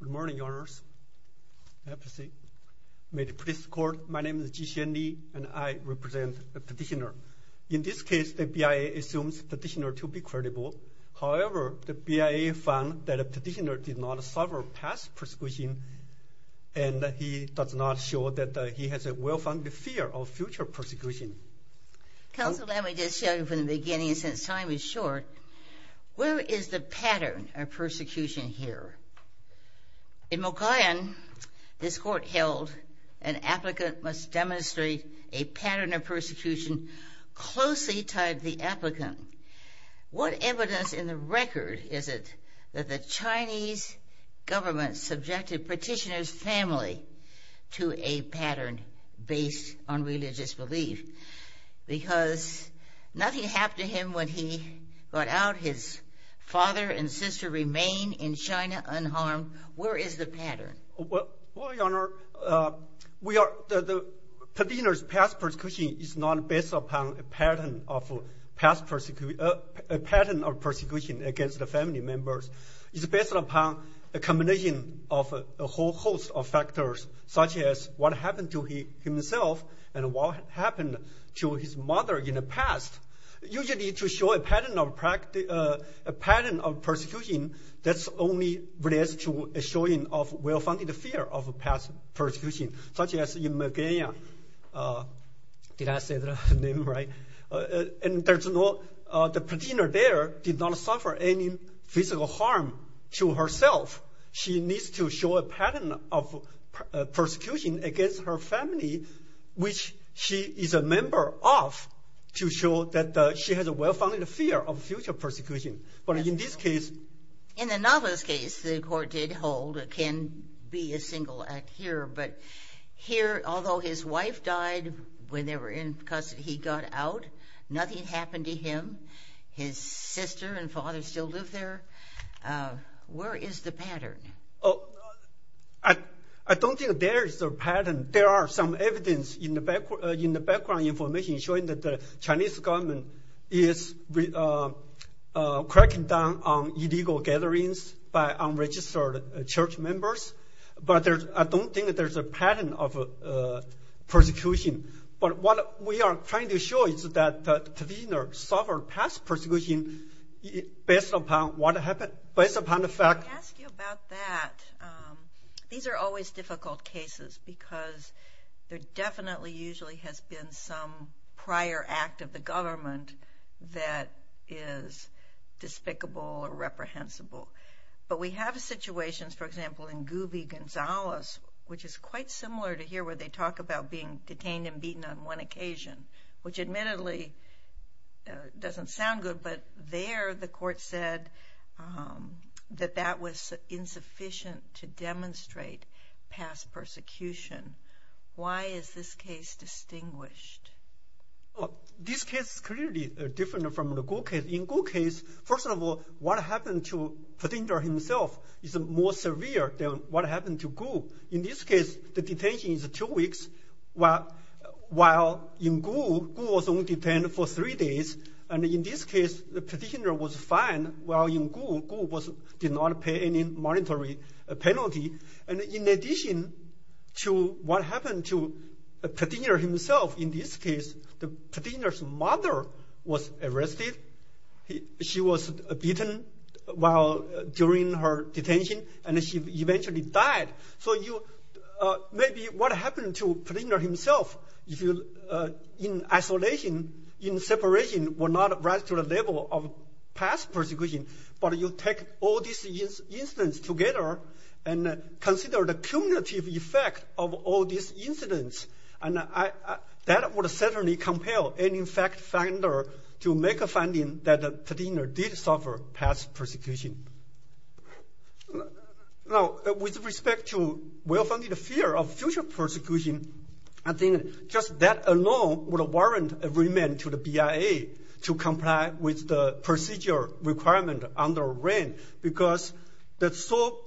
Good morning, Your Honors. May the police court, my name is Ji-Hsien Lee and I represent the petitioner. In this case, the BIA assumes petitioner to be credible. However, the BIA found that a petitioner did not suffer past persecution and he does not show that he has a well-founded fear of future persecution. Counsel, let me just show you from the beginning since time is short. Where is the pattern of persecution here? In Mogollon, this court held an applicant must demonstrate a pattern of persecution closely tied to the applicant. What evidence in the record is it that the Chinese government subjected petitioner's family to a pattern based on religious belief? Because nothing happened to him when he got out. His father and sister remain in China unharmed. Where is the pattern? Well, Your Honor, the petitioner's past persecution is not based upon a pattern of persecution against the family members. It's based upon a combination of a whole host of factors such as what happened to himself and what happened to his mother in the past. Usually to show a pattern of persecution, that only relates to a showing of well-founded fear of past persecution, such as in Megania. Did I say the name right? The petitioner there did not suffer any physical harm to herself. She needs to show a pattern of persecution against her family, which she is a member of, to show that she has a well-founded fear of future persecution. But in this case... In the novelist's case, the court did hold, it can be a single act here, but here, although his wife died when they were in custody, he got out, nothing happened to him. His sister and father still live there. Where is the pattern? Oh, I don't think there is a pattern. There are some evidence in the background information showing that the Chinese government is cracking down on illegal gatherings by unregistered church members. But I don't think that there's a pattern of persecution. But what we are trying to show is that the petitioner suffered past persecution based upon what happened, based upon the fact... Let me ask you about that. These are always difficult cases, because there definitely usually has been some prior act of the government that is despicable or reprehensible. But we have situations, for example, in Gubi Gonzales, which is quite similar to here, where they talk about being detained and beaten on one occasion, which admittedly doesn't sound good. But there, the court said that that was insufficient to demonstrate past persecution. Why is this case distinguished? This case is clearly different from the Gou case. In Gou's case, first of all, what happened to the petitioner himself is more severe than what happened to Gou. In this case, the detention is two weeks, while in Gou, Gou was only detained for three days. And in this case, the petitioner was fined, while in Gou, Gou did not pay any monetary penalty. And in addition to what happened to the petitioner himself, in this case, the petitioner's mother was arrested. She was beaten while during her detention, and she eventually died. So maybe what happened to the petitioner himself, in isolation, in separation, would not rise to the level of past persecution. But you take all these incidents together and consider the cumulative effect of all these incidents, and that would certainly compel any fact finder to make a finding that the petitioner did suffer past persecution. Now, with respect to well-founded fear of future persecution, I think just that alone would warrant agreement to the BIA to comply with the procedure requirement under REN, because the sole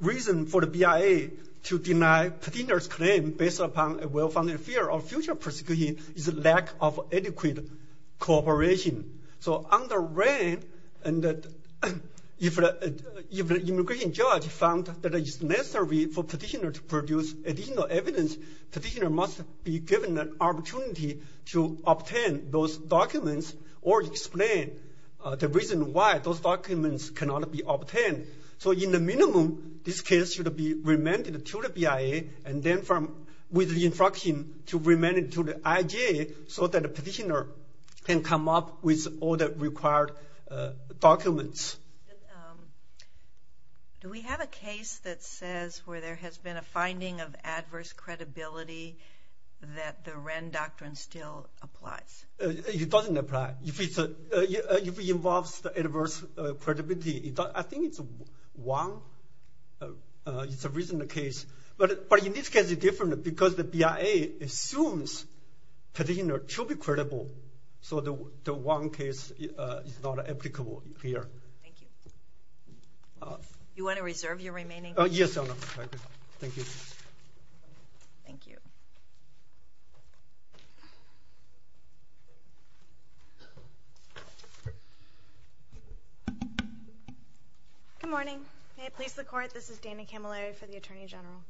reason for the BIA to deny petitioner's claim based upon a well-founded fear of future persecution is a lack of adequate cooperation. So under REN, if an immigration judge found that it is necessary for petitioner to produce additional evidence, petitioner must be given an opportunity to obtain those documents or explain the reason why those documents should be obtained. So in the minimum, this case should be remanded to the BIA, and then with the instruction to remand it to the IJA so that the petitioner can come up with all the required documents. Do we have a case that says where there has been a finding of adverse credibility that the REN doctrine still applies? It doesn't apply. If it involves adverse credibility, I think it's a reasonable case, but in this case it's different because the BIA assumes petitioner should be credible, so the one case is not applicable here. You want to reserve your remaining? Yes, thank you. Good morning. May it please the Court, this is Dana Camilleri for the Attorney General.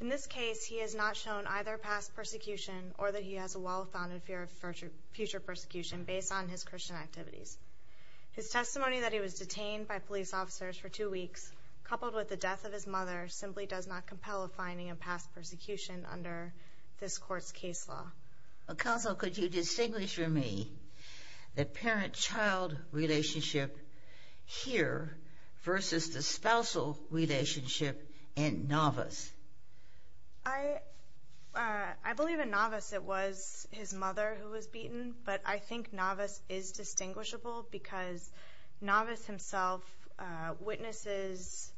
In this case, he has not shown either past persecution or that he has a well-founded fear of future persecution based on his Christian activities. His testimony that he was detained by police officers for two weeks coupled with the death of his mother simply does not compel a finding of past persecution under this Court's case law. Counsel, could you distinguish for me the parent-child relationship here versus the spousal relationship in Navas? I believe in Navas it was his mother who was beaten, but I think Navas is distinguishable because Navas himself witnesses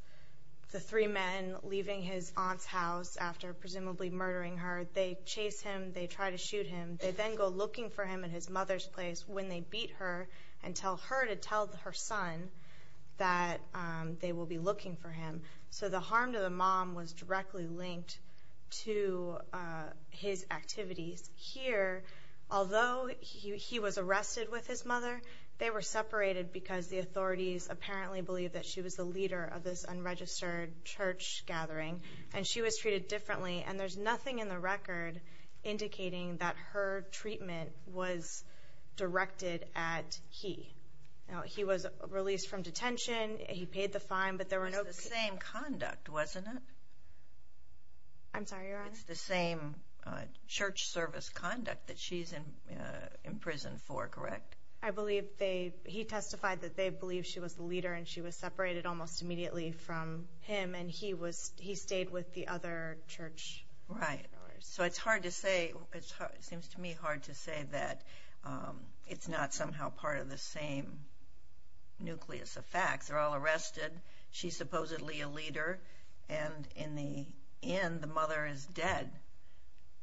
the three men leaving his aunt's house after presumably murdering her. They chase him, they try to shoot him, they then go looking for him at his mother's place when they beat her and tell her to tell her son that they will be looking for him. So the harm to the mom was directly linked to his activities. Here, although he was arrested with his mother, they were separated because the authorities apparently believed that she was the leader of this unregistered church gathering and she was treated differently and there's nothing in the record indicating that her treatment was directed at he. He was released from detention, he paid the fine, but there were no... It was the same conduct, wasn't it? I'm sorry, Your Honor? It's the same church service conduct that she's in prison for, correct? I believe they, he testified that they believed she was the leader and she was separated almost immediately from him and he stayed with the other church members. Right. So it's hard to say, it seems to me hard to say that it's not somehow part of the same nucleus of facts. They're all arrested, she's supposedly a leader, and in the end the mother is dead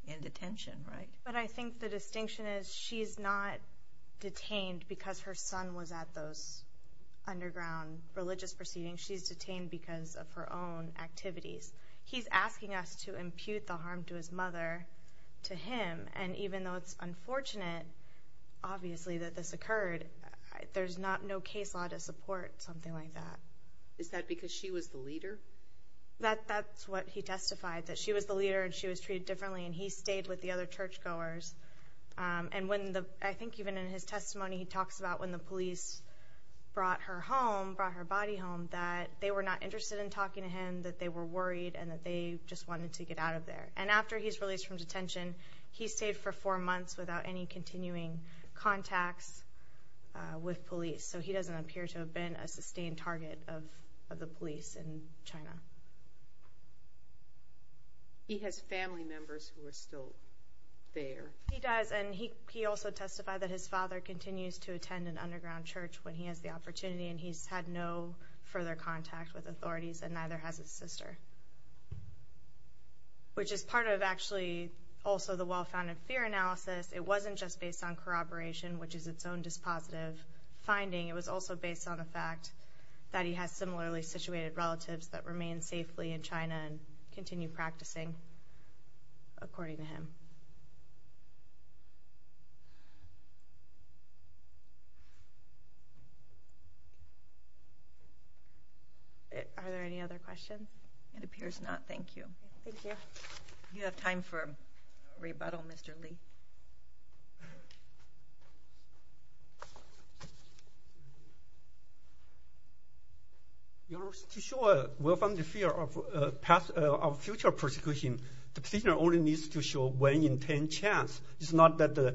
in detention, right? But I think the distinction is she's not detained because her son was at those underground religious proceedings, she's detained because of her own activities. He's asking us to impute the harm to his mother, to him, and even though it's unfortunate, obviously, that this occurred, there's no case law to support something like that. Is that because she was the leader? That's what he testified, that she was the leader and she was treated differently and he stayed with the other churchgoers. And when the, I think even in his testimony he testified that the police brought her home, brought her body home, that they were not interested in talking to him, that they were worried, and that they just wanted to get out of there. And after he's released from detention, he stayed for four months without any continuing contacts with police. So he doesn't appear to have been a sustained target of the police in China. He has family members who are still there. He does, and he also testified that his father continues to attend an underground church when he has the opportunity and he's had no further contact with authorities and neither has his sister. Which is part of actually also the well-founded fear analysis, it wasn't just based on corroboration, which is its own dispositive finding, it was also based on the fact that he has similarly situated relatives that remain safely in China and that he has no further contact with authorities. Are there any other questions? It appears not. Thank you. Thank you. Do you have time for a rebuttal, Mr. Li? Your Honour, to show a well-founded fear of future persecution, the petitioner only needs to show one in ten chance. It's not that,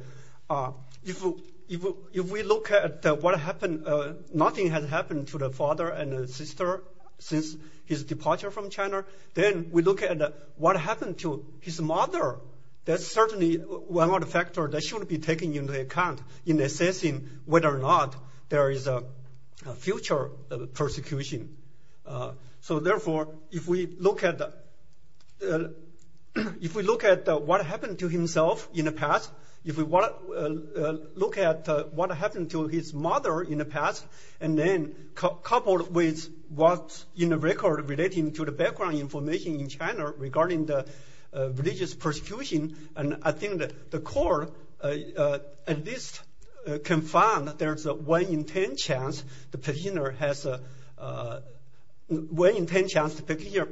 if we look at what happened, nothing has happened to the father and the sister since his departure from China. Then we look at what happened to his mother, that's certainly one of the factors that should be taken into account in assessing whether or not there is a future persecution. So therefore, if we look at the what happened to himself in the past, if we look at what happened to his mother in the past, and then coupled with what's in the record relating to the background information in China regarding the religious persecution, I think the court at least can find that there is a one in ten chance the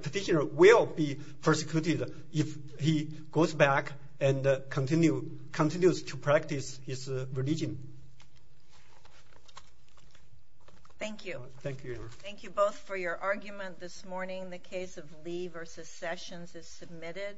petitioner will be persecuted if he goes back to China. If he goes back and continues to practice his religion. Thank you. Thank you both for your argument this morning. The case of Li versus Sessions is submitted.